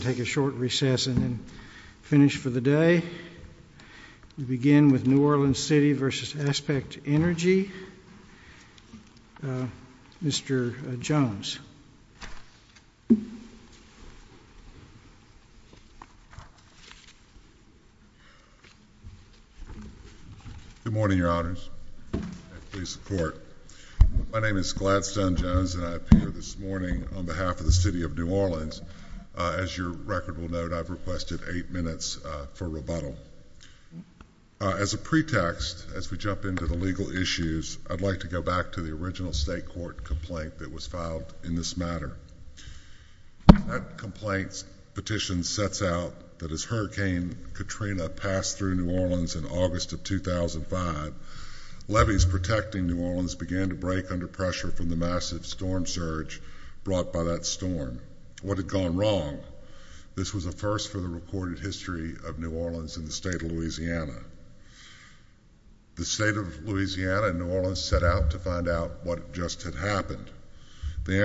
Take a short recess and then finish for the day. We begin with New Orleans City v. Aspect Energy, Mr. Jones. Good morning, Your Honors, and please support. My name is Gladstone Jones and I appear this morning on behalf of the City of New Orleans. As your record will note, I've requested eight minutes for rebuttal. As a pretext, as we jump into the legal issues, I'd like to go back to the original state court complaint that was filed in this matter. That complaint's petition sets out that as Hurricane Katrina passed through New Orleans in August of 2005, levees protecting New Orleans began to break under pressure from the massive storm surge brought by that storm. What had gone wrong? This was a first for the recorded history of New Orleans in the state of Louisiana. The state of Louisiana and New Orleans set out to find out what just had happened. The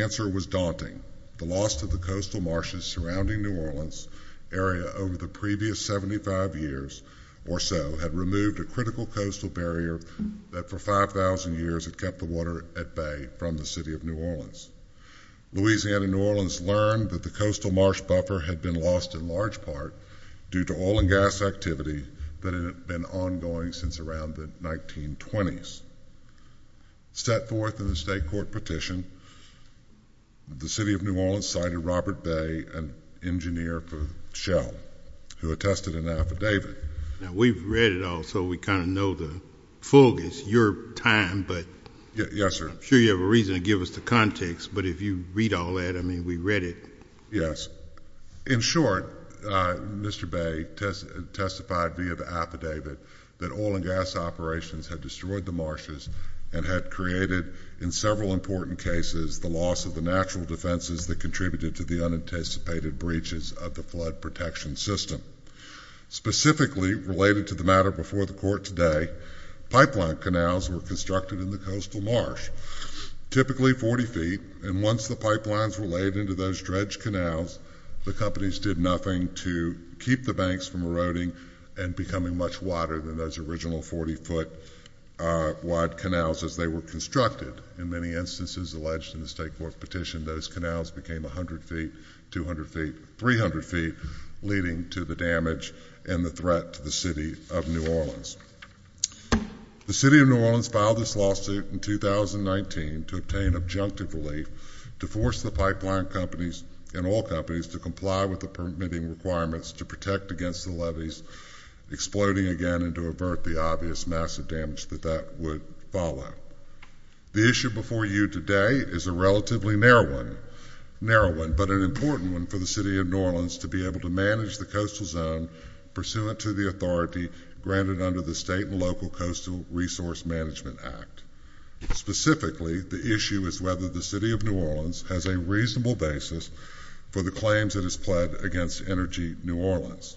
answer was daunting. The loss of the coastal marshes surrounding New Orleans area over the previous 75 years or so had removed a critical coastal barrier that for 5,000 years had kept the water at bay from the City of New Orleans. Louisiana and New Orleans learned that the coastal marsh buffer had been lost in large part due to oil and gas activity that had been ongoing since around the 1920s. Set forth in the state court petition, the City of New Orleans cited Robert Bay, an engineer for Shell, who attested an affidavit. Now, we've read it all, so we kind of know the focus, your time, but I'm sure you have a reason to give us the context, but if you read all that, I mean, we read it. Yes. In short, Mr. Bay testified via the affidavit that oil and gas operations had destroyed the marshes and had created, in several important cases, the loss of the natural defenses that contributed to the unanticipated breaches of the flood protection system. Specifically, related to the matter before the court today, pipeline canals were constructed in the coastal marsh, typically 40 feet, and once the pipelines were laid into those dredged canals, the companies did nothing to keep the banks from eroding and becoming much wider than those original 40 foot wide canals as they were constructed. In many instances alleged in the state court petition, those canals became 100 feet, 200 feet, 300 feet, leading to the damage and the threat to the City of New Orleans. The City of New Orleans filed this lawsuit in 2019 to obtain objective relief to force the pipeline companies and oil companies to comply with the permitting requirements to protect against the levees exploding again and to avert the obvious massive damage that that would follow. The issue before you today is a relatively narrow one, but an important one for the City of New Orleans to be able to manage the coastal zone pursuant to the authority granted under the State and Local Coastal Resource Management Act. Specifically, the issue is whether the City of New Orleans has a reasonable basis for the claims it has pled against Energy New Orleans.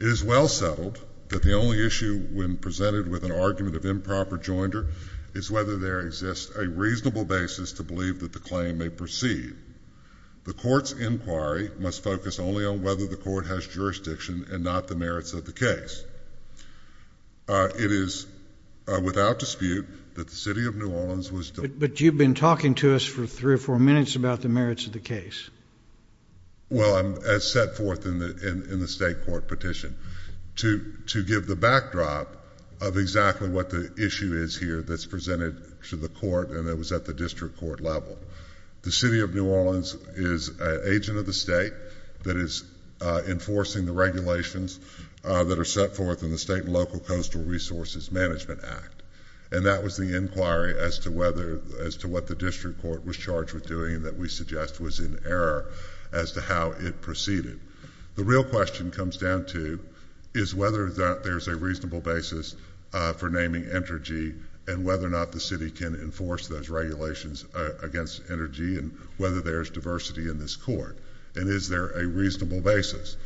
It is well settled that the only issue when presented with an argument of improper joinder is whether there exists a reasonable basis to believe that the claim may proceed. The court's inquiry must focus only on whether the court has jurisdiction and not the merits of the case. It is without dispute that the City of New Orleans was— But you've been talking to us for three or four minutes about the merits of the case. Well, as set forth in the state court petition, to give the backdrop of exactly what the issue is here that's presented to the court and that was at the district court level. The City of New Orleans is an agent of the state that is enforcing the regulations that are set forth in the State and Local Coastal Resources Management Act. And that was the inquiry as to whether—as to what the district court was charged with doing that we suggest was in error as to how it proceeded. The real question comes down to is whether there's a reasonable basis for naming Energy and whether or not the city can enforce those regulations against Energy and whether there's diversity in this court. And is there a reasonable basis?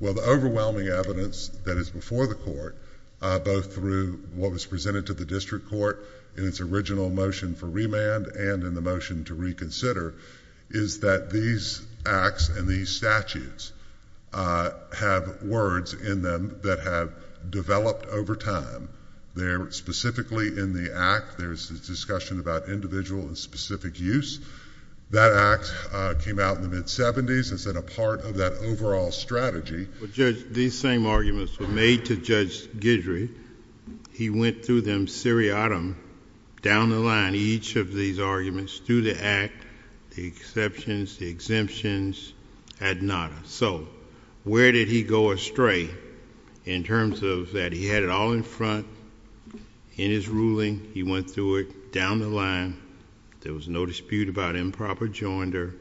Well, the overwhelming evidence that is before the court, both through what was presented to the district court in its original motion for remand and in the motion to reconsider, is that these acts and these statutes have words in them that have developed over time. They're specifically in the act. There's a discussion about individual and specific use. That act came out in the mid-'70s as a part of that overall strategy. Judge, these same arguments were made to Judge Guidry. He went through them seriatim, down the line, each of these arguments through the act, the exceptions, the exemptions, ad nada. So where did he go astray in terms of that? He had it all in front in his ruling. He went through it down the line. There was no dispute about improper joinder,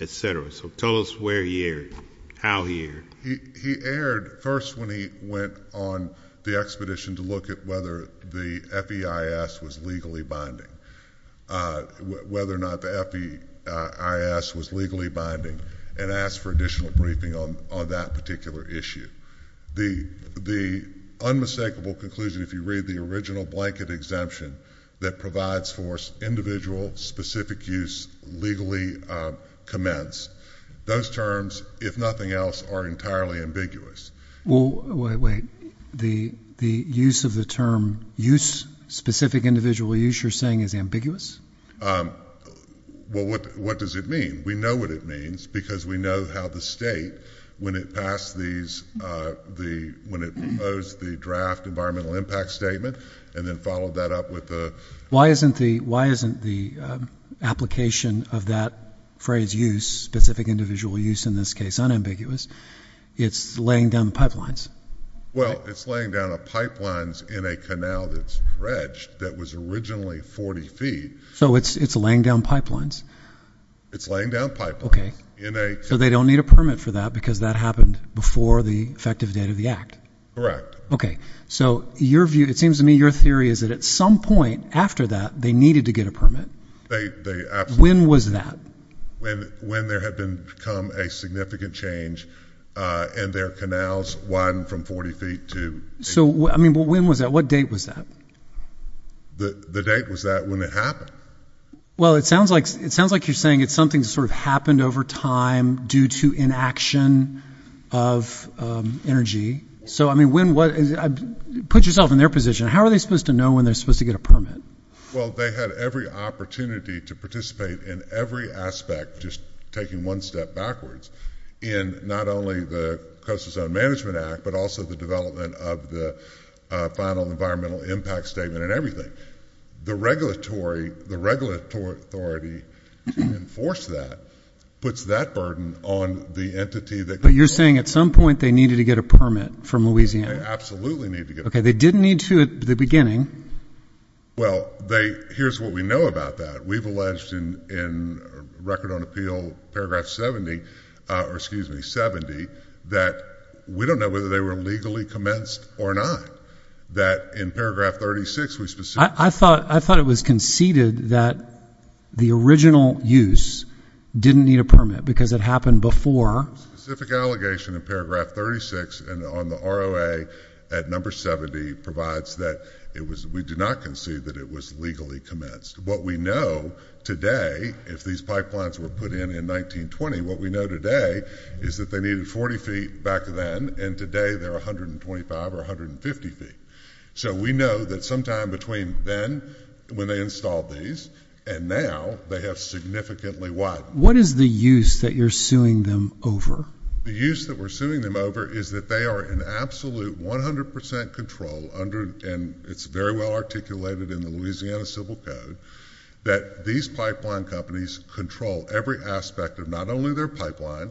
et cetera. So tell us where he erred, how he erred. He erred first when he went on the expedition to look at whether the FEIS was legally binding, whether or not the FEIS was legally binding, and asked for additional briefing on that particular issue. The unmistakable conclusion, if you read the original blanket exemption that provides for individual specific use legally commenced, those terms, if nothing else, are entirely ambiguous. Well, wait, wait. The use of the term use, specific individual use, you're saying is ambiguous? Well, what does it mean? We know what it means because we know how the state, when it passed these, when it proposed the draft environmental impact statement and then followed that up with the- Why isn't the application of that phrase use, specific individual use in this case, unambiguous? It's laying down pipelines. Well, it's laying down pipelines in a canal that's dredged that was originally 40 feet. So it's laying down pipelines. It's laying down pipelines in a- So they don't need a permit for that because that happened before the effective date of the act? Correct. Okay. So your view, it seems to me your theory is that at some point after that, they needed to get a permit. They absolutely- When was that? When there had become a significant change in their canals, one from 40 feet to- So, I mean, when was that? What date was that? The date was that when it happened. Well, it sounds like you're saying it's something that sort of happened over time due to inaction of energy. So, I mean, put yourself in their position. How are they supposed to know when they're supposed to get a permit? Well, they had every opportunity to participate in every aspect, just taking one step backwards, in not only the Coastal Zone Management Act, but also the development of the final environmental impact statement and everything. The regulatory authority to enforce that puts that burden on the entity that- But you're saying at some point they needed to get a permit from Louisiana? They absolutely needed to get a permit. Okay. They didn't need to at the beginning. Well, here's what we know about that. We've alleged in Record on Appeal Paragraph 70 that we don't know whether they were legally commenced or not. That in Paragraph 36 we specifically- I thought it was conceded that the original use didn't need a permit because it happened before- Specific allegation in Paragraph 36 and on the ROA at Number 70 provides that we did not concede that it was legally commenced. What we know today, if these pipelines were put in in 1920, what we know today is that they needed 40 feet back then, and today they're 125 or 150 feet. So we know that sometime between then, when they installed these, and now, they have significantly- What is the use that you're suing them over? The use that we're suing them over is that they are in absolute 100 percent control under- and it's very well articulated in the Louisiana Civil Code- that these pipeline companies control every aspect of not only their pipeline,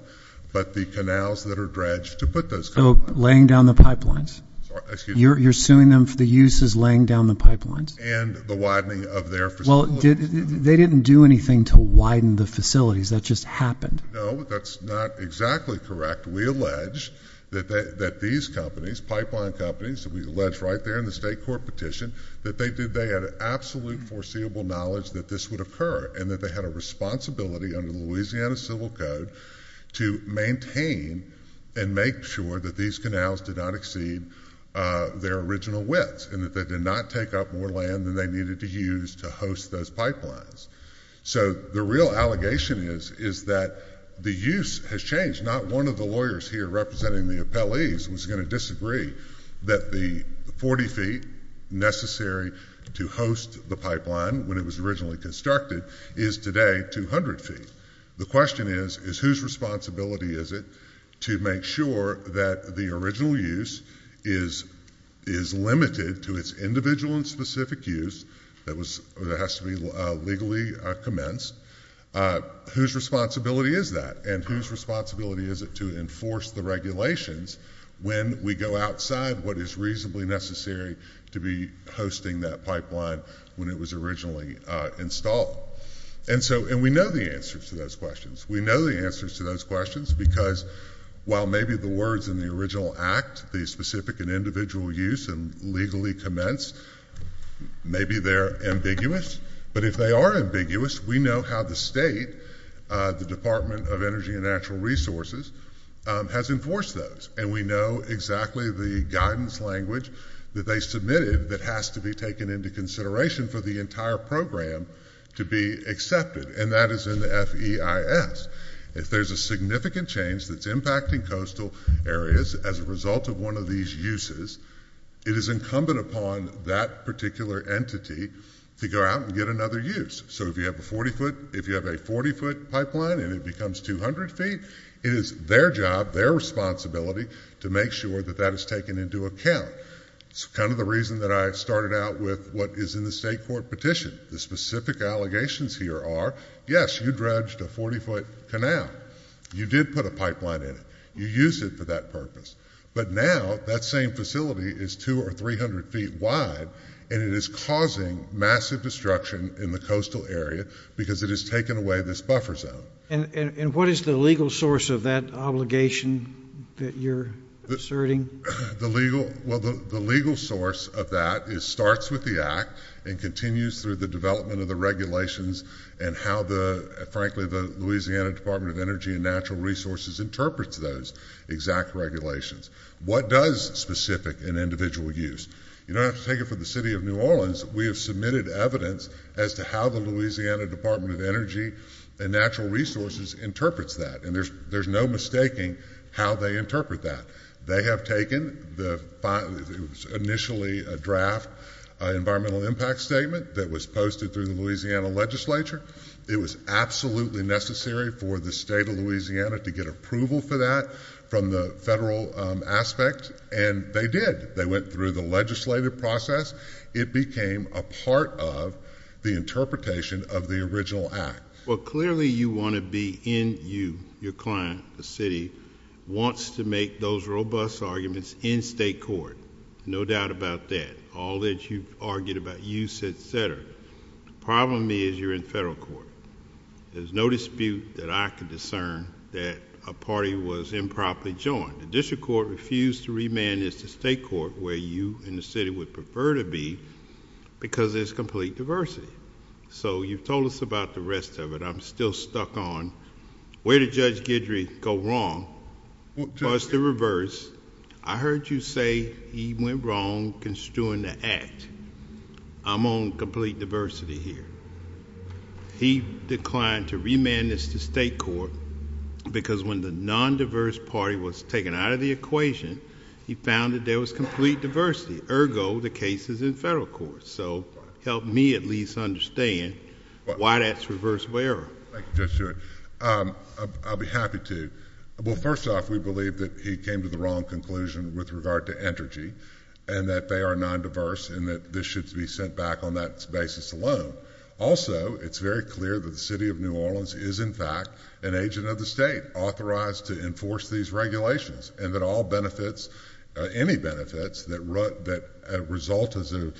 but the canals that are dredged to put those- So, laying down the pipelines? Sorry, excuse me? You're suing them for the use as laying down the pipelines? And the widening of their facilities. Well, they didn't do anything to widen the facilities. That just happened. No, that's not exactly correct. We allege that these companies, pipeline companies, that we allege right there in the state court petition, that they had absolute foreseeable knowledge that this would occur, and that they had a responsibility under the Louisiana Civil Code to maintain and make sure that these canals did not exceed their original widths, and that they did not take up more land than they needed to use to host those pipelines. So the real allegation is that the use has changed. Not one of the lawyers here representing the appellees was going to disagree that the 40 feet necessary to host the pipeline when it was originally constructed is today 200 feet. The question is, whose responsibility is it to make sure that the original use is limited to its individual and specific use that has to be legally commenced? Whose responsibility is that? And whose responsibility is it to enforce the regulations when we go outside what is reasonably necessary to be hosting that pipeline when it was originally installed? And we know the answers to those questions. We know the answers to those questions because while maybe the words in the original act, the specific and individual use, and legally commenced, maybe they're ambiguous. But if they are ambiguous, we know how the state, the Department of Energy and Natural Resources, has enforced those. And we know exactly the guidance language that they submitted that has to be taken into consideration for the entire program to be accepted, and that is in the FEIS. If there's a significant change that's impacting coastal areas as a result of one of these uses, it is incumbent upon that particular entity to go out and get another use. So if you have a 40-foot pipeline and it becomes 200 feet, it is their job, their responsibility, to make sure that that is taken into account. It's kind of the reason that I started out with what is in the state court petition. The specific allegations here are, yes, you dredged a 40-foot canal. You did put a pipeline in it. You used it for that purpose. But now that same facility is 200 or 300 feet wide, and it is causing massive destruction in the coastal area because it has taken away this buffer zone. And what is the legal source of that obligation that you're asserting? Well, the legal source of that starts with the act and continues through the development of the regulations and how, frankly, the Louisiana Department of Energy and Natural Resources interprets those exact regulations. What does specific and individual use? You don't have to take it from the city of New Orleans. We have submitted evidence as to how the Louisiana Department of Energy and Natural Resources interprets that, and there's no mistaking how they interpret that. They have taken the initially draft environmental impact statement that was posted through the Louisiana legislature. It was absolutely necessary for the state of Louisiana to get approval for that from the federal aspect, and they did. They went through the legislative process. It became a part of the interpretation of the original act. Well, clearly you want to be in you. Your client, the city, wants to make those robust arguments in state court. No doubt about that. All that you've argued about use, et cetera. The problem is you're in federal court. There's no dispute that I can discern that a party was improperly joined. The district court refused to remand this to state court where you and the city would prefer to be because there's complete diversity. So you've told us about the rest of it. I'm still stuck on where did Judge Guidry go wrong. As to reverse, I heard you say he went wrong construing the act. I'm on complete diversity here. He declined to remand this to state court because when the nondiverse party was taken out of the equation, he found that there was complete diversity, ergo the cases in federal court. So help me at least understand why that's reversible error. Thank you, Judge Stewart. I'll be happy to. Well, first off, we believe that he came to the wrong conclusion with regard to energy and that they are nondiverse and that this should be sent back on that basis alone. Also, it's very clear that the city of New Orleans is, in fact, an agent of the state authorized to enforce these regulations and that all benefits, any benefits that result as a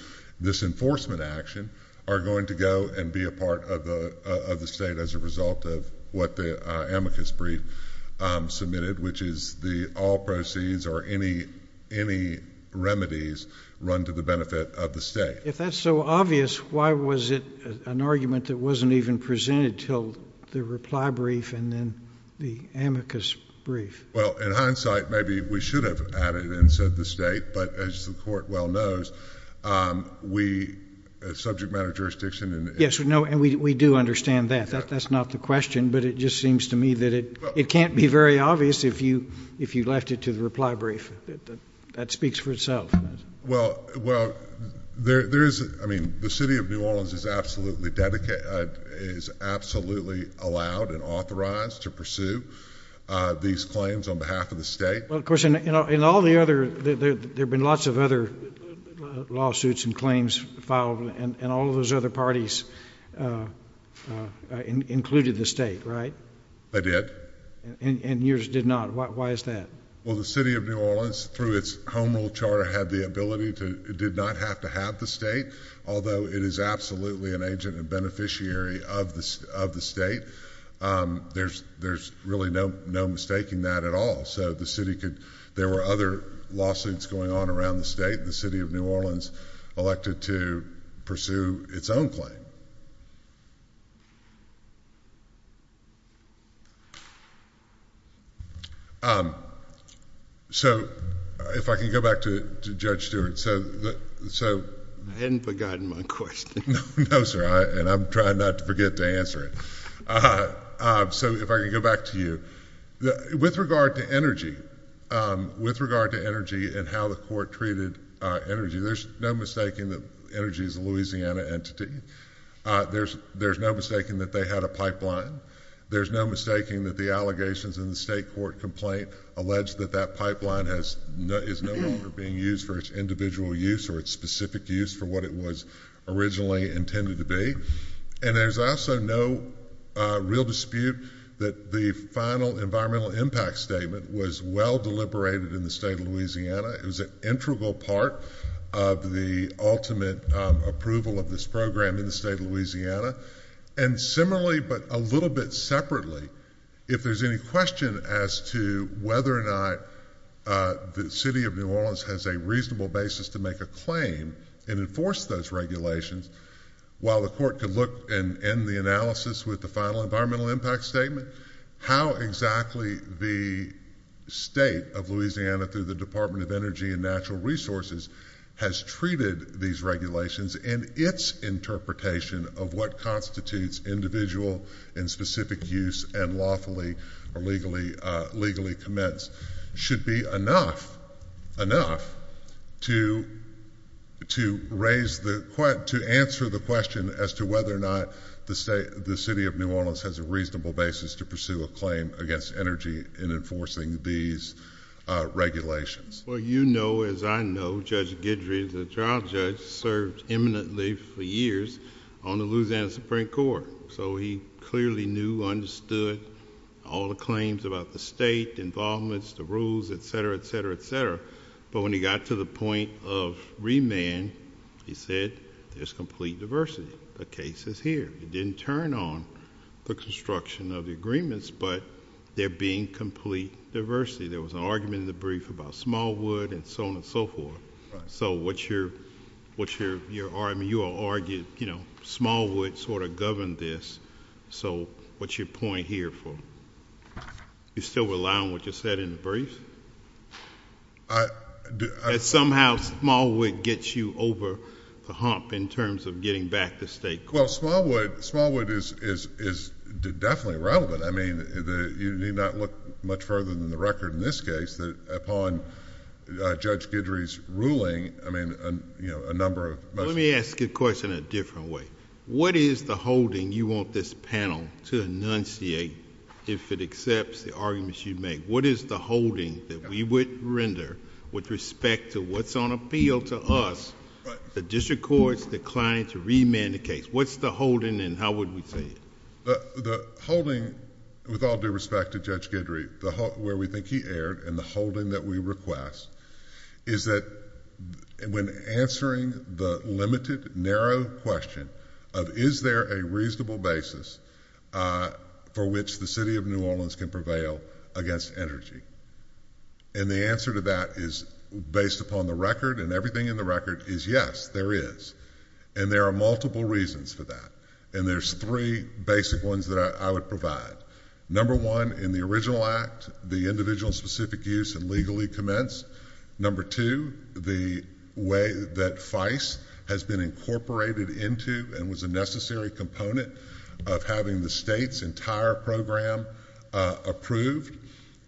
disenforcement action, are going to go and be a part of the state as a result of what the amicus brief submitted, which is the all proceeds or any remedies run to the benefit of the state. If that's so obvious, why was it an argument that wasn't even presented until the reply brief and then the amicus brief? Well, in hindsight, maybe we should have added in, said the state. But as the court well knows, we, subject matter of jurisdiction. Yes, and we do understand that. That's not the question, but it just seems to me that it can't be very obvious if you left it to the reply brief. That speaks for itself. Well, there is, I mean, the city of New Orleans is absolutely allowed and authorized to pursue these claims on behalf of the state. Well, of course, in all the other, there have been lots of other lawsuits and claims filed, and all of those other parties included the state, right? They did. And yours did not. Why is that? Well, the city of New Orleans, through its home rule charter, had the ability to, did not have to have the state. Although it is absolutely an agent and beneficiary of the state, there's really no mistaking that at all. So the city could, there were other lawsuits going on around the state, and the city of New Orleans elected to pursue its own claim. So, if I can go back to Judge Stewart. I hadn't forgotten my question. No, sir, and I'm trying not to forget to answer it. So, if I could go back to you. With regard to energy, with regard to energy and how the court treated energy, there's no mistaking that energy is a Louisiana entity. There's no mistaking that they had a pipeline. There's no mistaking that the allegations in the state court complaint allege that that pipeline is no longer being used for its individual use or its specific use for what it was originally intended to be. And there's also no real dispute that the final environmental impact statement was well deliberated in the state of Louisiana. It was an integral part of the ultimate approval of this program in the state of Louisiana. And similarly, but a little bit separately, if there's any question as to whether or not the city of New Orleans has a reasonable basis to make a claim and enforce those regulations, while the court could look and end the analysis with the final environmental impact statement, how exactly the state of Louisiana through the Department of Energy and Natural Resources has treated these regulations and its interpretation of what constitutes individual and specific use and lawfully or legally commenced should be enough to answer the question as to whether or not the city of New Orleans has a reasonable basis to pursue a claim against energy in enforcing these regulations. Well, you know, as I know, Judge Guidry, the trial judge, served eminently for years on the Louisiana Supreme Court. So he clearly knew, understood all the claims about the state, the involvements, the rules, etc., etc., etc. But when he got to the point of remand, he said, there's complete diversity. The case is here. It didn't turn on the construction of the agreements, but there being complete diversity. There was an argument in the brief about Smallwood and so on and so forth. So what's your argument? You all argued Smallwood sort of governed this. So what's your point here? You still rely on what you said in the brief? That somehow Smallwood gets you over the hump in terms of getting back to state court? Well, Smallwood is definitely relevant. I mean, you need not look much further than the record in this case that upon Judge Guidry's ruling, I mean, a number of... Let me ask you a question in a different way. What is the holding you want this panel to enunciate if it accepts the arguments you make? What is the holding that we would render with respect to what's on appeal to us, the district courts declining to remand the case? What's the holding and how would we say it? The holding, with all due respect to Judge Guidry, where we think he erred in the holding that we request, is that when answering the limited, narrow question of is there a reasonable basis for which the City of New Orleans can prevail against energy? And the answer to that is based upon the record and everything in the record is yes, there is. And there are multiple reasons for that. And there's three basic ones that I would provide. Number one, in the original act, the individual specific use and legally commence. Number two, the way that FICE has been incorporated into and was a necessary component of having the state's entire program approved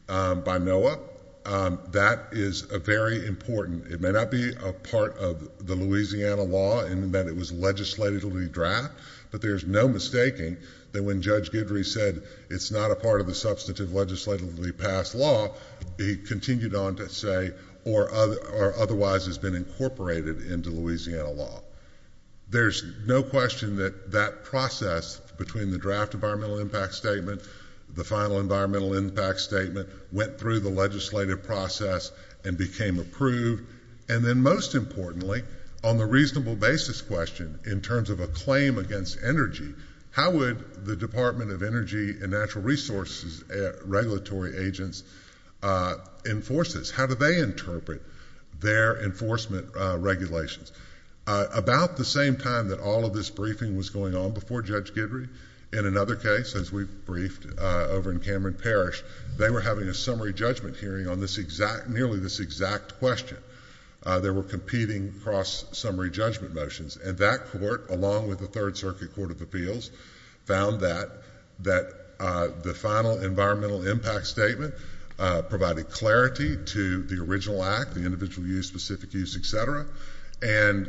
by NOAA. That is very important. It may not be a part of the Louisiana law in that it was legislatively draft, but there's no mistaking that when Judge Guidry said it's not a part of the substantive legislatively passed law, he continued on to say or otherwise has been incorporated into Louisiana law. There's no question that that process between the draft environmental impact statement, the final environmental impact statement went through the legislative process and became approved. And then most importantly, on the reasonable basis question in terms of a claim against energy, how would the Department of Energy and Natural Resources regulatory agents enforce this? How do they interpret their enforcement regulations? About the same time that all of this briefing was going on before Judge Guidry, in another case, as we briefed over in Cameron Parish, they were having a summary judgment hearing on nearly this exact question. There were competing cross-summary judgment motions. And that court, along with the Third Circuit Court of Appeals, found that the final environmental impact statement provided clarity to the original act, the individual use, specific use, et cetera, and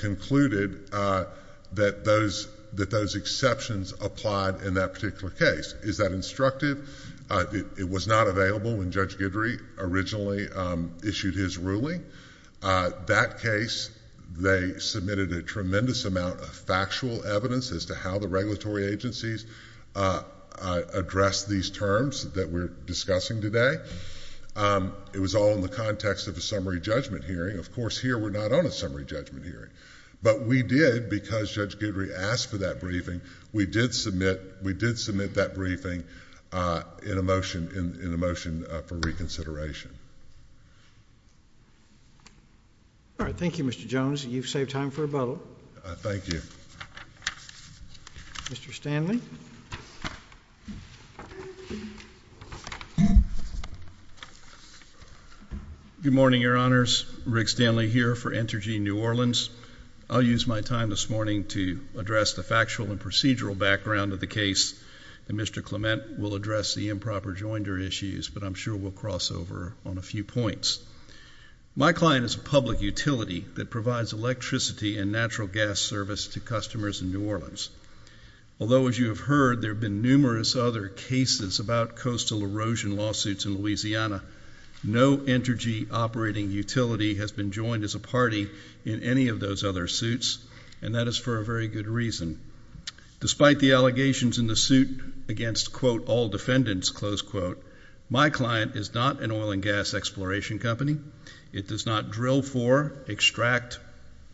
concluded that those exceptions applied in that particular case. Is that instructive? It was not available when Judge Guidry originally issued his ruling. That case, they submitted a tremendous amount of factual evidence as to how the regulatory agencies addressed these terms that we're discussing today. It was all in the context of a summary judgment hearing. Of course, here we're not on a summary judgment hearing. But we did, because Judge Guidry asked for that briefing, we did submit that briefing in a motion for reconsideration. All right. Thank you, Mr. Jones. You've saved time for a bubble. Thank you. Mr. Stanley? Good morning, Your Honors. Rick Stanley here for Entergy New Orleans. I'll use my time this morning to address the factual and procedural background of the case, and Mr. Clement will address the improper joinder issues, but I'm sure we'll cross over on a few points. My client is a public utility that provides electricity and natural gas service to customers in New Orleans. Although, as you have heard, there have been numerous other cases about coastal erosion lawsuits in Louisiana, no Entergy operating utility has been joined as a party in any of those other suits, and that is for a very good reason. Despite the allegations in the suit against, quote, all defendants, close quote, my client is not an oil and gas exploration company. It does not drill for, extract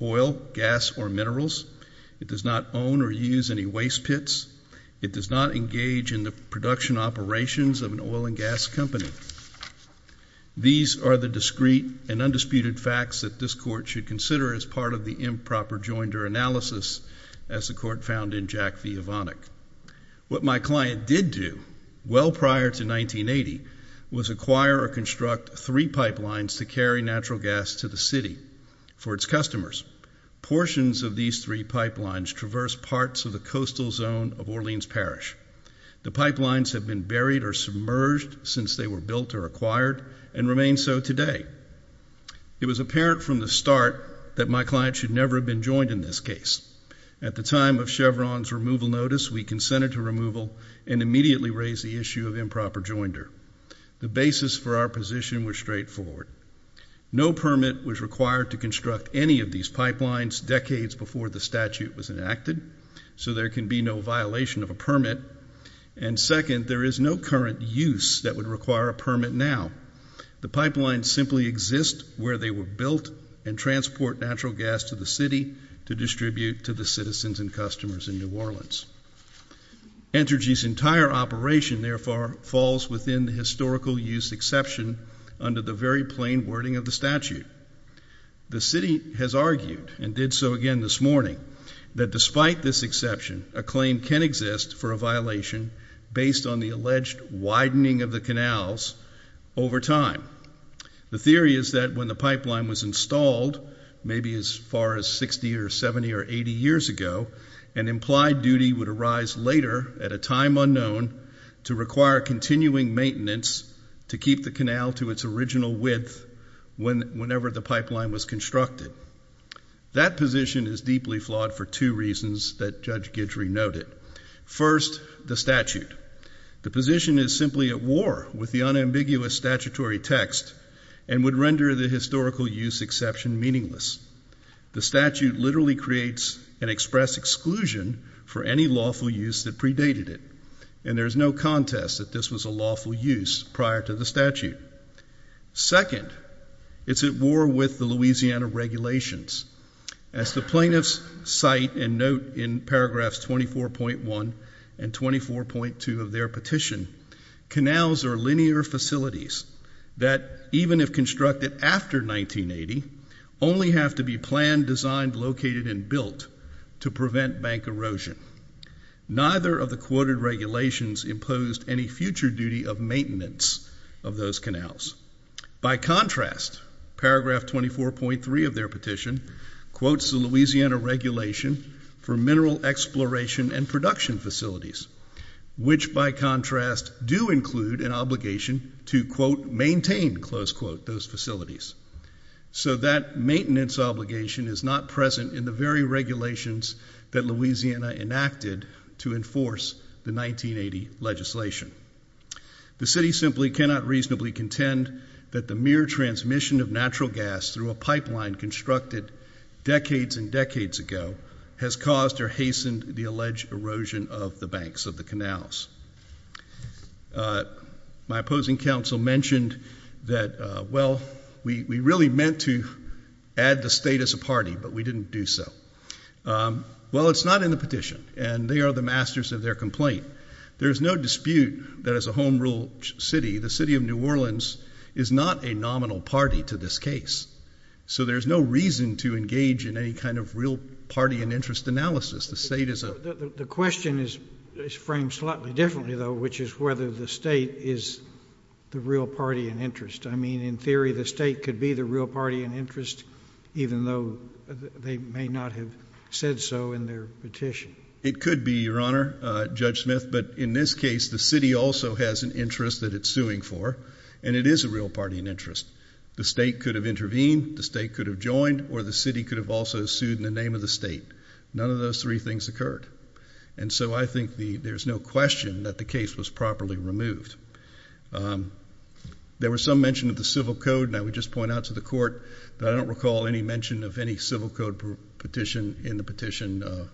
oil, gas, or minerals. It does not own or use any waste pits. It does not engage in the production operations of an oil and gas company. These are the discreet and undisputed facts that this court should consider as part of the improper joinder analysis, as the court found in Jack V. Avonic. What my client did do, well prior to 1980, was acquire or construct three pipelines to carry natural gas to the city for its customers. Portions of these three pipelines traverse parts of the coastal zone of Orleans Parish. The pipelines have been buried or submerged since they were built or acquired, and remain so today. It was apparent from the start that my client should never have been joined in this case. At the time of Chevron's removal notice, we consented to removal and immediately raised the issue of improper joinder. The basis for our position was straightforward. No permit was required to construct any of these pipelines decades before the statute was enacted, so there can be no violation of a permit. And second, there is no current use that would require a permit now. The pipelines simply exist where they were built and transport natural gas to the city to distribute to the citizens and customers in New Orleans. Entergy's entire operation, therefore, falls within the historical use exception under the very plain wording of the statute. The city has argued, and did so again this morning, that despite this exception, a claim can exist for a violation based on the alleged widening of the canals over time. The theory is that when the pipeline was installed, maybe as far as 60 or 70 or 80 years ago, an implied duty would arise later at a time unknown to require continuing maintenance to keep the canal to its original width whenever the pipeline was constructed. That position is deeply flawed for two reasons that Judge Guidry noted. First, the statute. The position is simply at war with the unambiguous statutory text and would render the historical use exception meaningless. The statute literally creates an express exclusion for any lawful use that predated it, and there is no contest that this was a lawful use prior to the statute. Second, it's at war with the Louisiana regulations. As the plaintiffs cite and note in paragraphs 24.1 and 24.2 of their petition, canals are linear facilities that, even if constructed after 1980, only have to be planned, designed, located, and built to prevent bank erosion. Neither of the quoted regulations imposed any future duty of maintenance of those canals. By contrast, paragraph 24.3 of their petition quotes the Louisiana regulation for mineral exploration and production facilities, which, by contrast, do include an obligation to, quote, maintain, close quote, those facilities. So that maintenance obligation is not present in the very regulations that Louisiana enacted to enforce the 1980 legislation. The city simply cannot reasonably contend that the mere transmission of natural gas through a pipeline constructed decades and decades ago has caused or hastened the alleged erosion of the banks of the canals. My opposing counsel mentioned that, well, we really meant to add the state as a party, but we didn't do so. Well, it's not in the petition, and they are the masters of their complaint. There is no dispute that, as a home rule city, the city of New Orleans is not a nominal party to this case. So there's no reason to engage in any kind of real party and interest analysis. The question is framed slightly differently, though, which is whether the state is the real party in interest. I mean, in theory, the state could be the real party in interest, even though they may not have said so in their petition. It could be, Your Honor, Judge Smith, but in this case the city also has an interest that it's suing for, and it is a real party in interest. The state could have intervened, the state could have joined, or the city could have also sued in the name of the state. None of those three things occurred. And so I think there's no question that the case was properly removed. There was some mention of the civil code, and I would just point out to the court, but I don't recall any mention of any civil code petition in the petition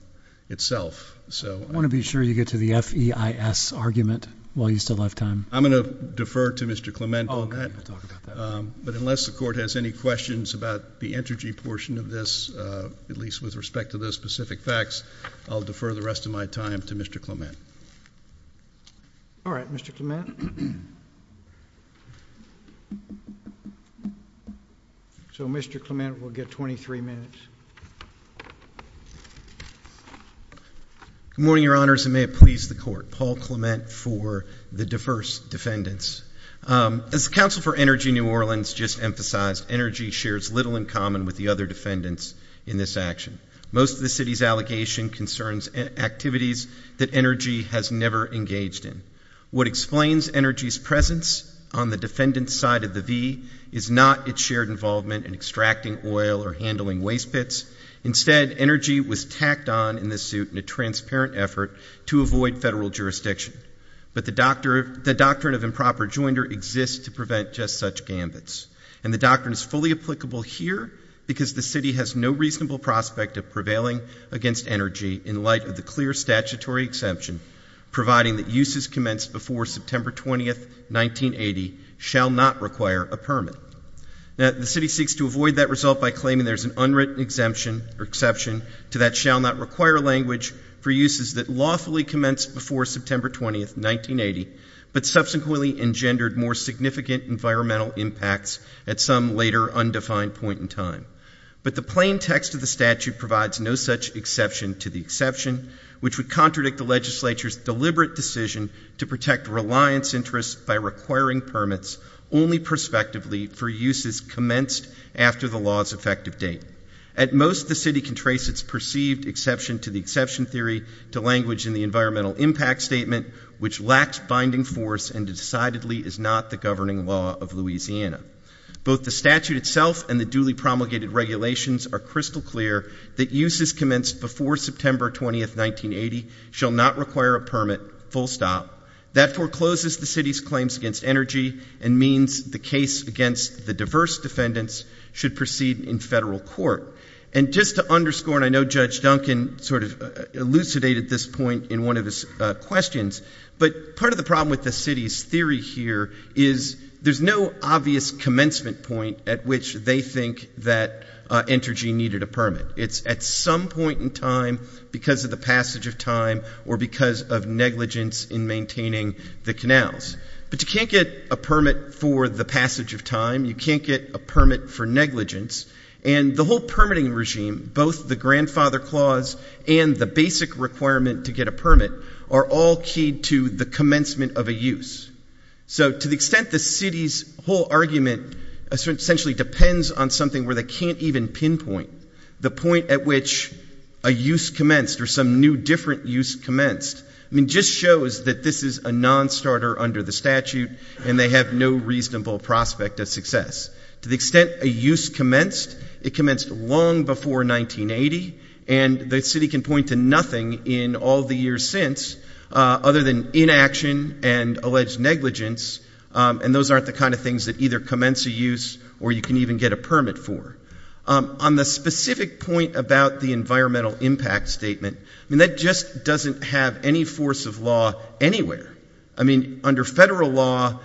itself. I want to be sure you get to the F-E-I-S argument while you still have time. I'm going to defer to Mr. Clement on that. Okay, we'll talk about that. But unless the court has any questions about the energy portion of this, at least with respect to those specific facts, I'll defer the rest of my time to Mr. Clement. All right, Mr. Clement. So Mr. Clement will get 23 minutes. Good morning, Your Honors, and may it please the court. Paul Clement for the diverse defendants. As the Council for Energy New Orleans just emphasized, energy shares little in common with the other defendants in this action. Most of the city's allegation concerns activities that energy has never engaged in. What explains energy's presence on the defendant's side of the V is not its shared involvement in extracting oil or handling waste pits. Instead, energy was tacked on in this suit in a transparent effort to avoid federal jurisdiction. But the doctrine of improper joinder exists to prevent just such gambits, and the doctrine is fully applicable here because the city has no reasonable prospect of prevailing against energy in light of the clear statutory exemption providing that uses commenced before September 20, 1980, shall not require a permit. The city seeks to avoid that result by claiming there's an unwritten exemption or exception to that shall not require language for uses that lawfully commenced before September 20, 1980, but subsequently engendered more significant environmental impacts at some later undefined point in time. But the plain text of the statute provides no such exception to the exception, which would contradict the legislature's deliberate decision to protect reliance interests by requiring permits only prospectively for uses commenced after the law's effective date. At most, the city can trace its perceived exception to the exception theory to language in the environmental impact statement, which lacks binding force and decidedly is not the governing law of Louisiana. Both the statute itself and the duly promulgated regulations are crystal clear that uses commenced before September 20, 1980, shall not require a permit, full stop. That forecloses the city's claims against energy and means the case against the diverse defendants should proceed in federal court. And just to underscore, and I know Judge Duncan sort of elucidated this point in one of his questions, but part of the problem with the city's theory here is there's no obvious commencement point at which they think that energy needed a permit. It's at some point in time because of the passage of time or because of negligence in maintaining the canals. But you can't get a permit for the passage of time. You can't get a permit for negligence. And the whole permitting regime, both the grandfather clause and the basic requirement to get a permit, are all key to the commencement of a use. So to the extent the city's whole argument essentially depends on something where they can't even pinpoint, the point at which a use commenced or some new different use commenced, I mean, just shows that this is a nonstarter under the statute and they have no reasonable prospect of success. To the extent a use commenced, it commenced long before 1980, and the city can point to nothing in all the years since other than inaction and alleged negligence, and those aren't the kind of things that either commence a use or you can even get a permit for. On the specific point about the environmental impact statement, I mean, that just doesn't have any force of law anywhere. I mean, under federal law,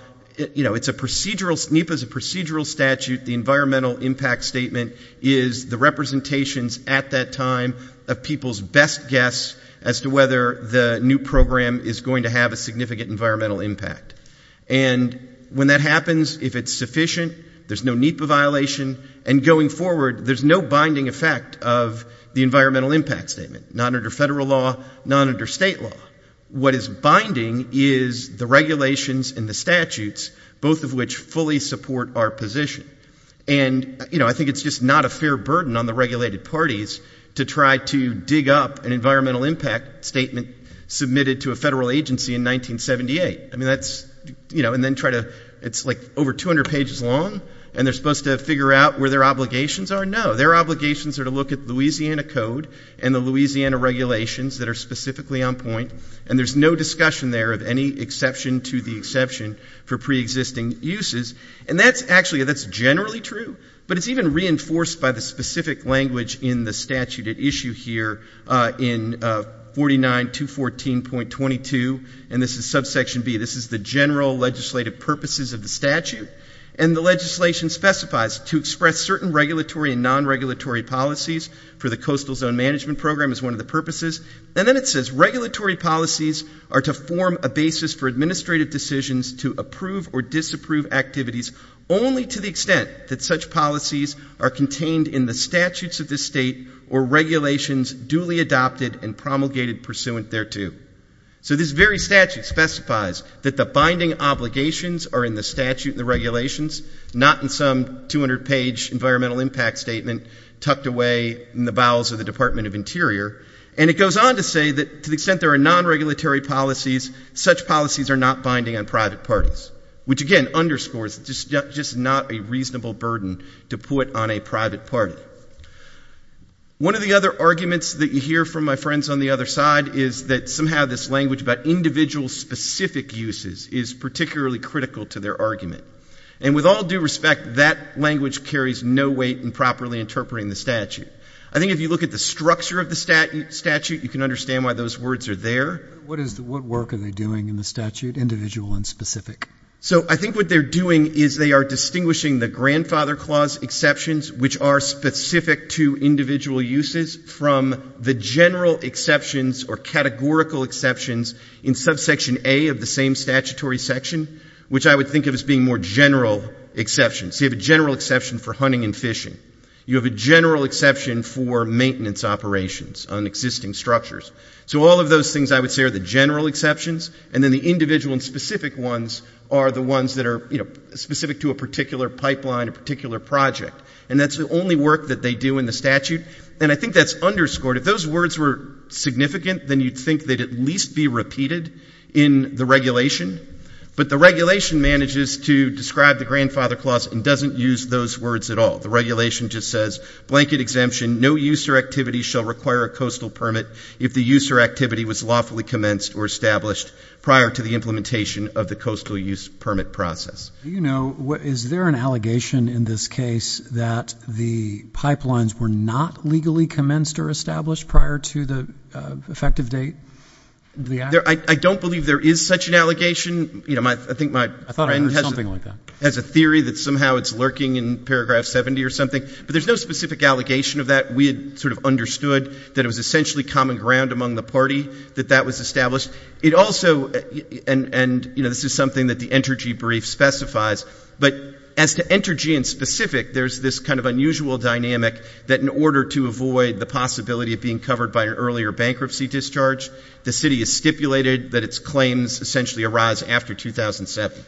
you know, NEPA is a procedural statute. The environmental impact statement is the representations at that time of people's best guess as to whether the new program is going to have a significant environmental impact. And when that happens, if it's sufficient, there's no NEPA violation, and going forward there's no binding effect of the environmental impact statement, not under federal law, not under state law. What is binding is the regulations and the statutes, both of which fully support our position. And, you know, I think it's just not a fair burden on the regulated parties to try to dig up an environmental impact statement submitted to a federal agency in 1978. I mean, that's, you know, and then try to, it's like over 200 pages long, and they're supposed to figure out where their obligations are? No, their obligations are to look at Louisiana code and the Louisiana regulations that are specifically on point, and there's no discussion there of any exception to the exception for preexisting uses. And that's actually, that's generally true, but it's even reinforced by the specific language in the statute at issue here in 49.214.22, and this is subsection B. This is the general legislative purposes of the statute, and the legislation specifies to express certain regulatory and non-regulatory policies for the Coastal Zone Management Program is one of the purposes. And then it says regulatory policies are to form a basis for administrative decisions to approve or disapprove activities only to the extent that such policies are contained in the statutes of the state or regulations duly adopted and promulgated pursuant thereto. So this very statute specifies that the binding obligations are in the statute and the regulations, not in some 200-page environmental impact statement tucked away in the bowels of the Department of Interior. And it goes on to say that to the extent there are non-regulatory policies, such policies are not binding on private parties, which again underscores just not a reasonable burden to put on a private party. One of the other arguments that you hear from my friends on the other side is that somehow this language about individual specific uses is particularly critical to their argument. And with all due respect, that language carries no weight in properly interpreting the statute. I think if you look at the structure of the statute, you can understand why those words are there. What work are they doing in the statute, individual and specific? So I think what they're doing is they are distinguishing the grandfather clause exceptions, which are specific to individual uses, from the general exceptions or categorical exceptions in subsection A of the same statutory section, which I would think of as being more general exceptions. You have a general exception for hunting and fishing. You have a general exception for maintenance operations on existing structures. So all of those things, I would say, are the general exceptions. And then the individual and specific ones are the ones that are specific to a particular pipeline, a particular project. And that's the only work that they do in the statute. And I think that's underscored. If those words were significant, then you'd think they'd at least be repeated in the regulation. But the regulation manages to describe the grandfather clause and doesn't use those words at all. The regulation just says, blanket exemption, no use or activity shall require a coastal permit if the use or activity was lawfully commenced or established prior to the implementation of the coastal use permit process. Do you know, is there an allegation in this case that the pipelines were not legally commenced or established prior to the effective date? I don't believe there is such an allegation. I think my friend has a theory that somehow it's lurking in paragraph 70 or something. But there's no specific allegation of that. We had sort of understood that it was essentially common ground among the party that that was established. It also, and this is something that the Entergy brief specifies, but as to Entergy in specific, there's this kind of unusual dynamic that in order to avoid the possibility of being covered by an earlier bankruptcy discharge, the city has stipulated that its claims essentially arise after 2007.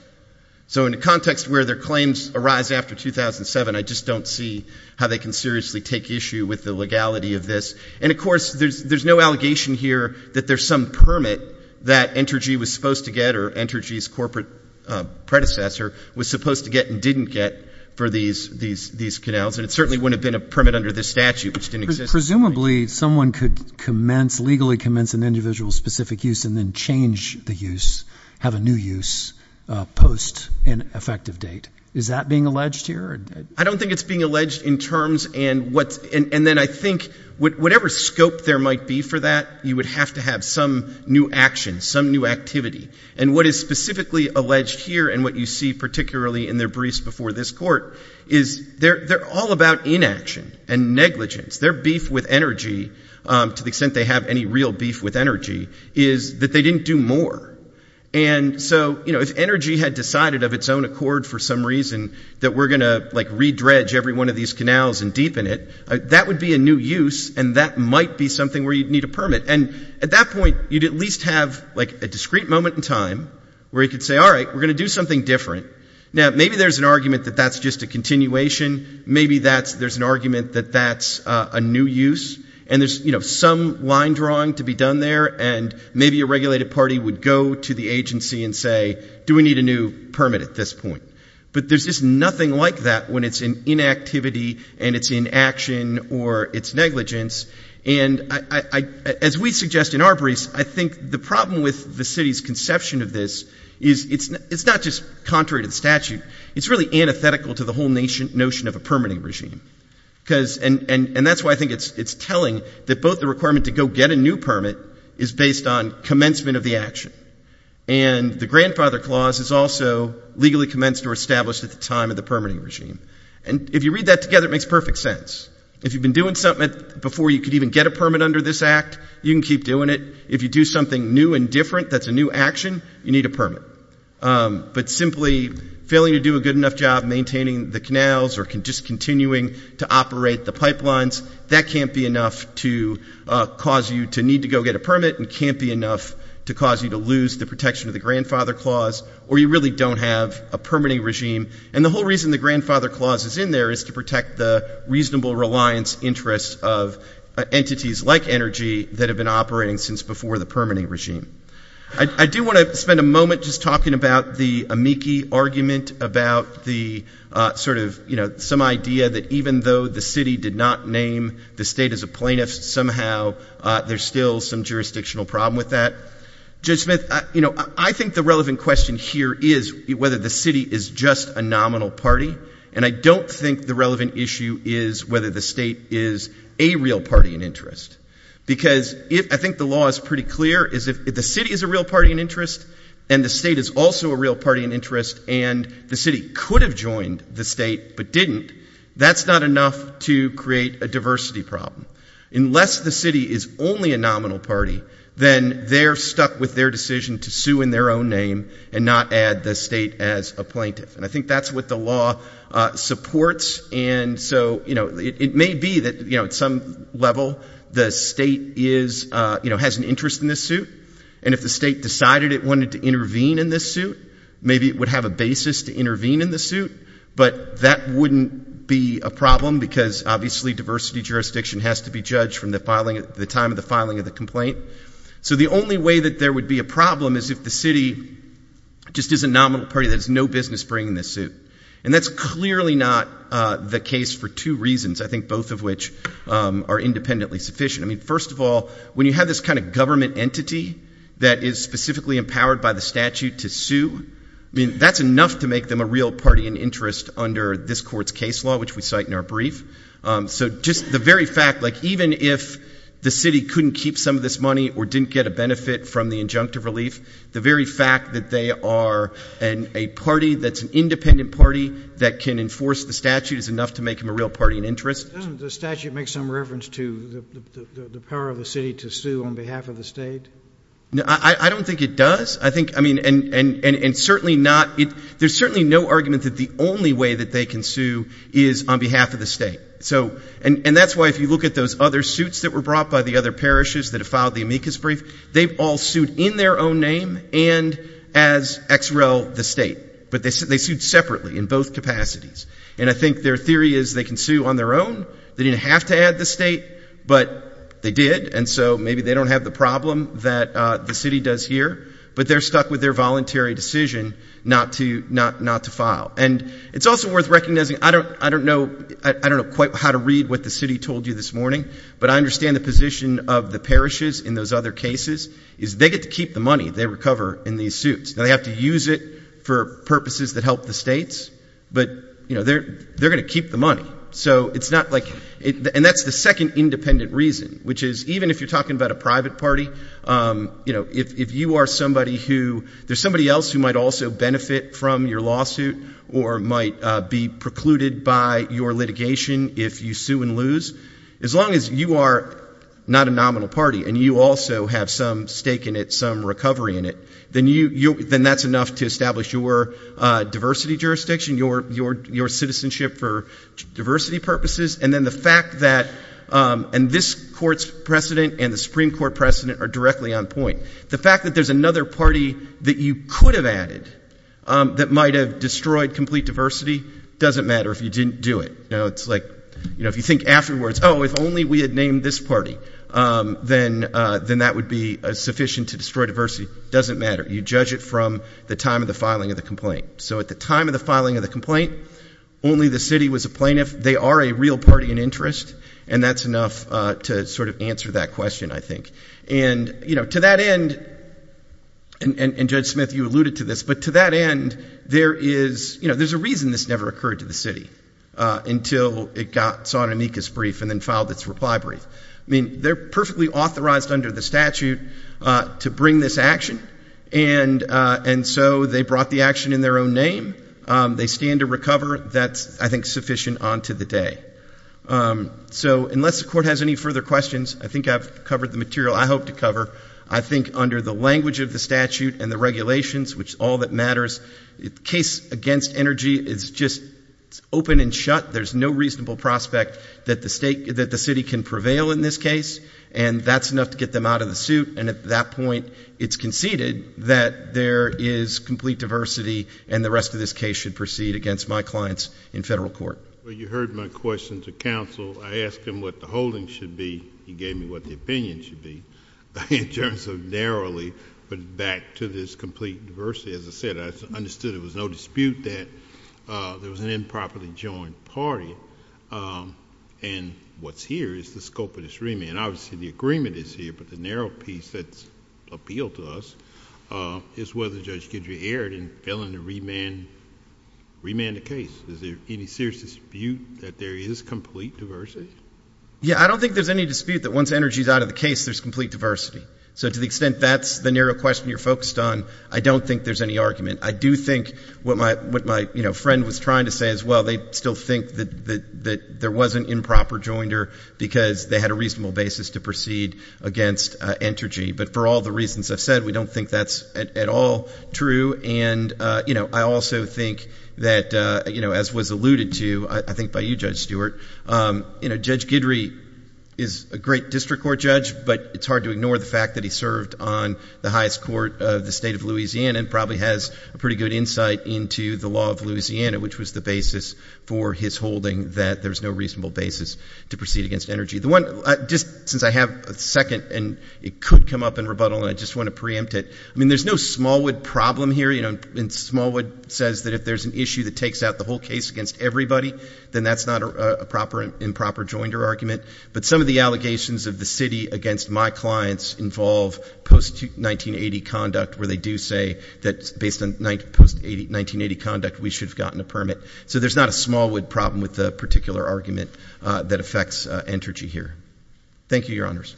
So in the context where their claims arise after 2007, I just don't see how they can seriously take issue with the legality of this. And, of course, there's no allegation here that there's some permit that Entergy was supposed to get or Entergy's corporate predecessor was supposed to get and didn't get for these canals. And it certainly wouldn't have been a permit under this statute, which didn't exist. Presumably someone could commence, legally commence an individual's specific use and then change the use, have a new use post an effective date. Is that being alleged here? I don't think it's being alleged in terms and then I think whatever scope there might be for that, you would have to have some new action, some new activity. And what is specifically alleged here and what you see particularly in their briefs before this court is they're all about inaction and negligence. Their beef with Entergy, to the extent they have any real beef with Entergy, is that they didn't do more. And so if Entergy had decided of its own accord for some reason that we're going to redredge every one of these canals and deepen it, that would be a new use and that might be something where you'd need a permit. And at that point, you'd at least have like a discrete moment in time where you could say, all right, we're going to do something different. Now, maybe there's an argument that that's just a continuation. Maybe there's an argument that that's a new use and there's some line drawing to be done there and maybe a regulated party would go to the agency and say, do we need a new permit at this point? But there's just nothing like that when it's in inactivity and it's inaction or it's negligence. And as we suggest in our briefs, I think the problem with the city's conception of this is it's not just contrary to the statute. It's really antithetical to the whole notion of a permitting regime. And that's why I think it's telling that both the requirement to go get a new permit is based on commencement of the action. And the grandfather clause is also legally commenced or established at the time of the permitting regime. And if you read that together, it makes perfect sense. If you've been doing something before you could even get a permit under this act, you can keep doing it. If you do something new and different that's a new action, you need a permit. But simply failing to do a good enough job maintaining the canals or just continuing to operate the pipelines, that can't be enough to cause you to need to go get a permit and can't be enough to cause you to lose the protection of the grandfather clause or you really don't have a permitting regime. And the whole reason the grandfather clause is in there is to protect the reasonable reliance interests of entities like energy that have been operating since before the permitting regime. I do want to spend a moment just talking about the amici argument about the sort of, you know, some idea that even though the city did not name the state as a plaintiff, somehow there's still some jurisdictional problem with that. Judge Smith, you know, I think the relevant question here is whether the city is just a nominal party, and I don't think the relevant issue is whether the state is a real party in interest. Because I think the law is pretty clear. If the city is a real party in interest and the state is also a real party in interest and the city could have joined the state but didn't, that's not enough to create a diversity problem. Unless the city is only a nominal party, then they're stuck with their decision to sue in their own name and not add the state as a plaintiff. And I think that's what the law supports. And so, you know, it may be that, you know, at some level the state is, you know, has an interest in this suit. And if the state decided it wanted to intervene in this suit, maybe it would have a basis to intervene in the suit. But that wouldn't be a problem because, obviously, diversity jurisdiction has to be judged from the time of the filing of the complaint. So the only way that there would be a problem is if the city just is a nominal party that has no business bringing this suit. And that's clearly not the case for two reasons, I think both of which are independently sufficient. I mean, first of all, when you have this kind of government entity that is specifically empowered by the statute to sue, I mean, that's enough to make them a real party in interest under this court's case law, which we cite in our brief. So just the very fact, like even if the city couldn't keep some of this money or didn't get a benefit from the injunctive relief, the very fact that they are a party that's an independent party that can enforce the statute is enough to make them a real party in interest. Doesn't the statute make some reference to the power of the city to sue on behalf of the state? I don't think it does. I think, I mean, and certainly not, there's certainly no argument that the only way that they can sue is on behalf of the state. So, and that's why if you look at those other suits that were brought by the other parishes that have filed the amicus brief, they've all sued in their own name and as ex rel the state, but they sued separately in both capacities. And I think their theory is they can sue on their own. They didn't have to add the state, but they did, and so maybe they don't have the problem that the city does here. But they're stuck with their voluntary decision not to file. And it's also worth recognizing, I don't know quite how to read what the city told you this morning, but I understand the position of the parishes in those other cases is they get to keep the money they recover in these suits. They have to use it for purposes that help the states, but, you know, they're going to keep the money. So it's not like, and that's the second independent reason, which is even if you're talking about a private party, you know, if you are somebody who, there's somebody else who might also benefit from your lawsuit or might be precluded by your litigation if you sue and lose, as long as you are not a nominal party and you also have some stake in it, some recovery in it, then that's enough to establish your diversity jurisdiction, your citizenship for diversity purposes. And then the fact that, and this court's precedent and the Supreme Court precedent are directly on point. The fact that there's another party that you could have added that might have destroyed complete diversity, doesn't matter if you didn't do it. You know, it's like, you know, if you think afterwards, oh, if only we had named this party, then that would be sufficient to destroy diversity. Doesn't matter. You judge it from the time of the filing of the complaint. So at the time of the filing of the complaint, only the city was a plaintiff. They are a real party in interest, and that's enough to sort of answer that question, I think. And, you know, to that end, and Judge Smith, you alluded to this, but to that end, there is, you know, there's a reason this never occurred to the city until it saw an amicus brief and then filed its reply brief. I mean, they're perfectly authorized under the statute to bring this action, and so they brought the action in their own name. They stand to recover. That's, I think, sufficient on to the day. So unless the court has any further questions, I think I've covered the material I hope to cover. I think under the language of the statute and the regulations, which is all that matters, the case against energy is just open and shut. There's no reasonable prospect that the city can prevail in this case, and that's enough to get them out of the suit. And at that point, it's conceded that there is complete diversity and the rest of this case should proceed against my clients in federal court. Well, you heard my question to counsel. I asked him what the holding should be. He gave me what the opinion should be. In terms of narrowly, but back to this complete diversity, as I said, I understood there was no dispute that there was an improperly joined party. And what's here is the scope of this remand. Obviously the agreement is here, but the narrow piece that's appealed to us is whether Judge Guidry erred in failing to remand the case. Is there any serious dispute that there is complete diversity? Yeah, I don't think there's any dispute that once energy is out of the case, there's complete diversity. So to the extent that's the narrow question you're focused on, I don't think there's any argument. I do think what my friend was trying to say as well, they still think that there was an improper joinder because they had a reasonable basis to proceed against Entergy. But for all the reasons I've said, we don't think that's at all true. And I also think that, as was alluded to, I think by you, Judge Stewart, Judge Guidry is a great district court judge, but it's hard to ignore the fact that he served on the highest court of the state of Louisiana and probably has a pretty good insight into the law of Louisiana, which was the basis for his holding that there's no reasonable basis to proceed against Energy. Just since I have a second, and it could come up in rebuttal, and I just want to preempt it. I mean, there's no Smallwood problem here. And Smallwood says that if there's an issue that takes out the whole case against everybody, then that's not a proper improper joinder argument. But some of the allegations of the city against my clients involve post-1980 conduct, where they do say that based on post-1980 conduct, we should have gotten a permit. So there's not a Smallwood problem with the particular argument that affects Entergy here. Thank you, Your Honors.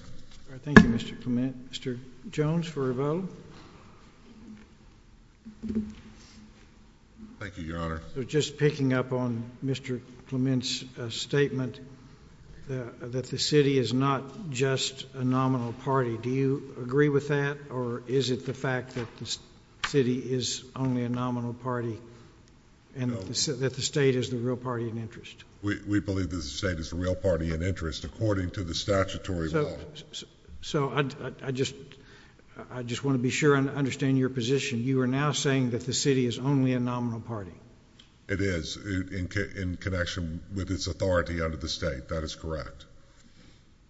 Thank you, Mr. Clement. Mr. Jones for a vote. Thank you, Your Honor. Just picking up on Mr. Clement's statement that the city is not just a nominal party, do you agree with that, or is it the fact that the city is only a nominal party and that the state is the real party in interest? We believe that the state is the real party in interest according to the statutory law. So I just want to be sure I understand your position. You are now saying that the city is only a nominal party. It is in connection with its authority under the state. That is correct.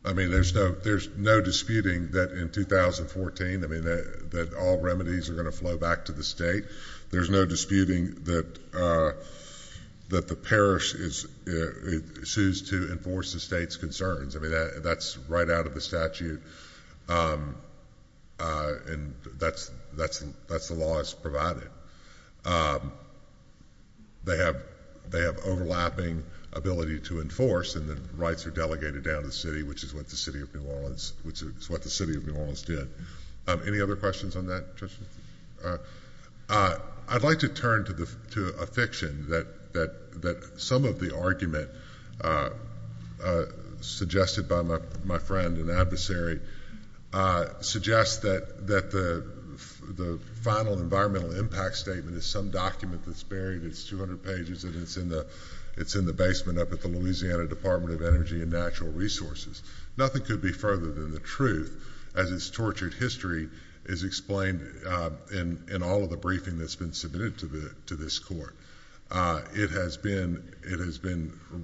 I mean, there's no disputing that in 2014, I mean, that all remedies are going to flow back to the state. There's no disputing that the parish is to enforce the state's concerns. I mean, that's right out of the statute. And that's the law that's provided. They have overlapping ability to enforce, and the rights are delegated down to the city, which is what the city of New Orleans did. Any other questions on that? I'd like to turn to a fiction that some of the argument suggested by my friend and adversary suggests that the final environmental impact statement is some document that's buried. It's 200 pages, and it's in the basement up at the Louisiana Department of Energy and Natural Resources. Nothing could be further than the truth, as its tortured history is explained in all of the briefing that's been submitted to this court. It has been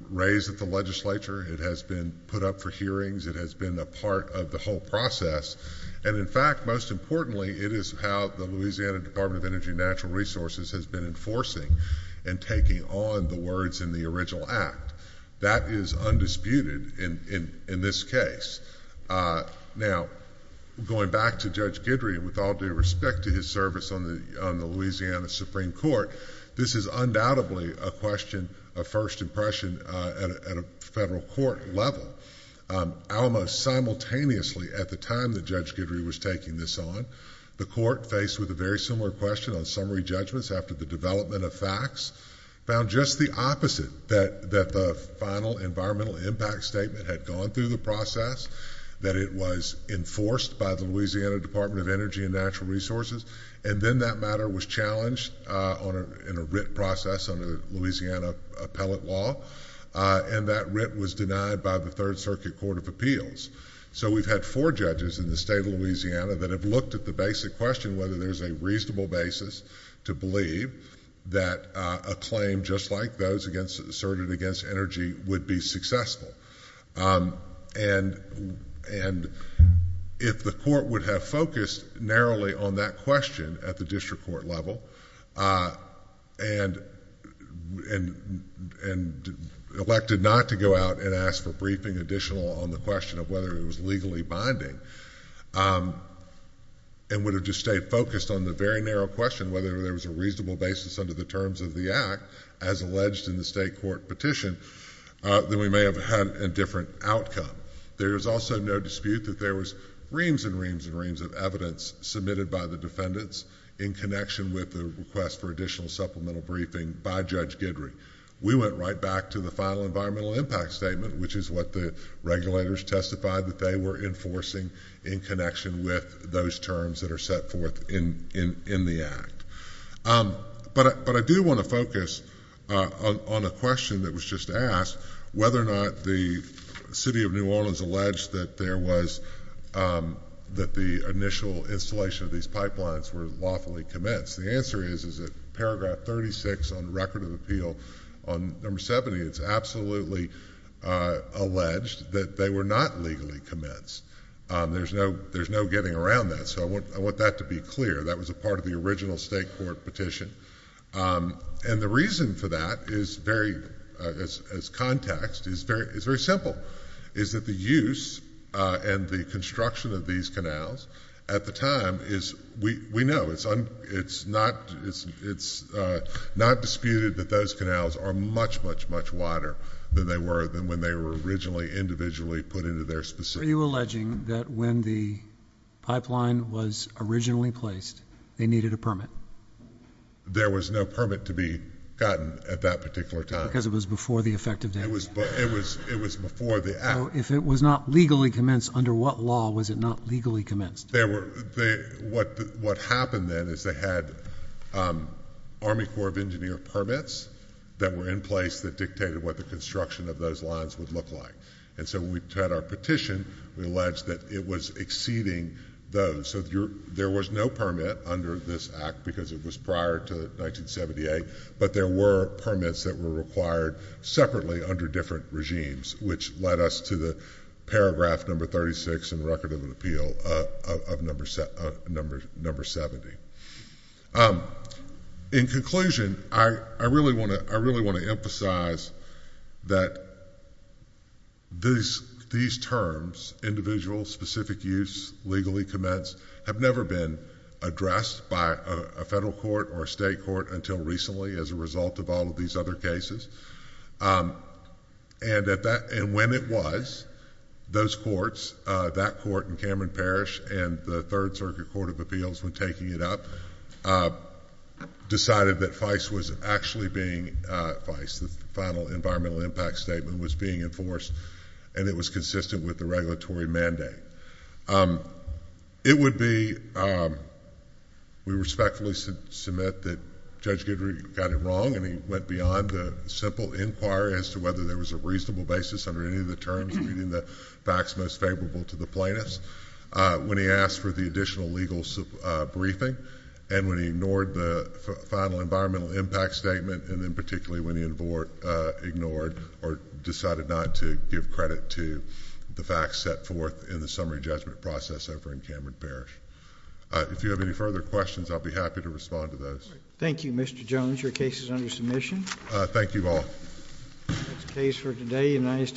raised at the legislature. It has been put up for hearings. It has been a part of the whole process. And, in fact, most importantly, it is how the Louisiana Department of Energy and Natural Resources has been enforcing and taking on the words in the original act. That is undisputed in this case. Now, going back to Judge Guidry, with all due respect to his service on the Louisiana Supreme Court, this is undoubtedly a question of first impression at a federal court level. Almost simultaneously at the time that Judge Guidry was taking this on, the court, faced with a very similar question on summary judgments after the development of facts, found just the opposite, that the final environmental impact statement had gone through the process, that it was enforced by the Louisiana Department of Energy and Natural Resources, and then that matter was challenged in a writ process under Louisiana appellate law, and that writ was denied by the Third Circuit Court of Appeals. So we've had four judges in the state of Louisiana that have looked at the basic question, whether there's a reasonable basis to believe that a claim just like those asserted against energy would be successful. And if the court would have focused narrowly on that question at the district court level and elected not to go out and ask for briefing additional on the question of whether it was legally binding and would have just stayed focused on the very narrow question, whether there was a reasonable basis under the terms of the act as alleged in the state court petition, then we may have had a different outcome. There is also no dispute that there was reams and reams and reams of evidence submitted by the defendants in connection with the request for additional supplemental briefing by Judge Guidry. We went right back to the final environmental impact statement, which is what the regulators testified that they were enforcing in connection with those terms that are set forth in the act. But I do want to focus on a question that was just asked, whether or not the city of New Orleans alleged that the initial installation of these pipelines were lawfully commenced. The answer is, is that paragraph 36 on the record of appeal, on number 70, it's absolutely alleged that they were not legally commenced. There's no getting around that. So I want that to be clear. That was a part of the original state court petition. And the reason for that is very, as context, is very simple, is that the use and the construction of these canals at the time is, we know, it's not disputed that those canals are much, much, much wider than they were, than when they were originally individually put into their specific. Are you alleging that when the pipeline was originally placed, they needed a permit? There was no permit to be gotten at that particular time. Because it was before the effective date. It was before the act. So if it was not legally commenced, under what law was it not legally commenced? What happened then is they had Army Corps of Engineers permits that were in place that dictated what the construction of those lines would look like. And so when we had our petition, we alleged that it was exceeding those. So there was no permit under this act because it was prior to 1978, but there were permits that were required separately under different regimes, which led us to the paragraph number 36 in Record of Appeal of number 70. In conclusion, I really want to emphasize that these terms, individual specific use, legally commenced, have never been addressed by a federal court or a state court until recently as a result of all of these other cases. And when it was, those courts, that court in Cameron Parish and the Third Circuit Court of Appeals when taking it up, decided that FICE was actually being, FICE, the Final Environmental Impact Statement, was being enforced and it was consistent with the regulatory mandate. It would be, we respectfully submit that Judge Guidry got it wrong and he went beyond a simple inquiry as to whether there was a reasonable basis under any of the terms meeting the facts most favorable to the plaintiffs. When he asked for the additional legal briefing and when he ignored the Final Environmental Impact Statement and then particularly when he ignored or decided not to give credit to the facts set forth in the summary judgment process over in Cameron Parish. If you have any further questions, I'll be happy to respond to those. Thank you, Mr. Jones. Your case is under submission. Thank you all.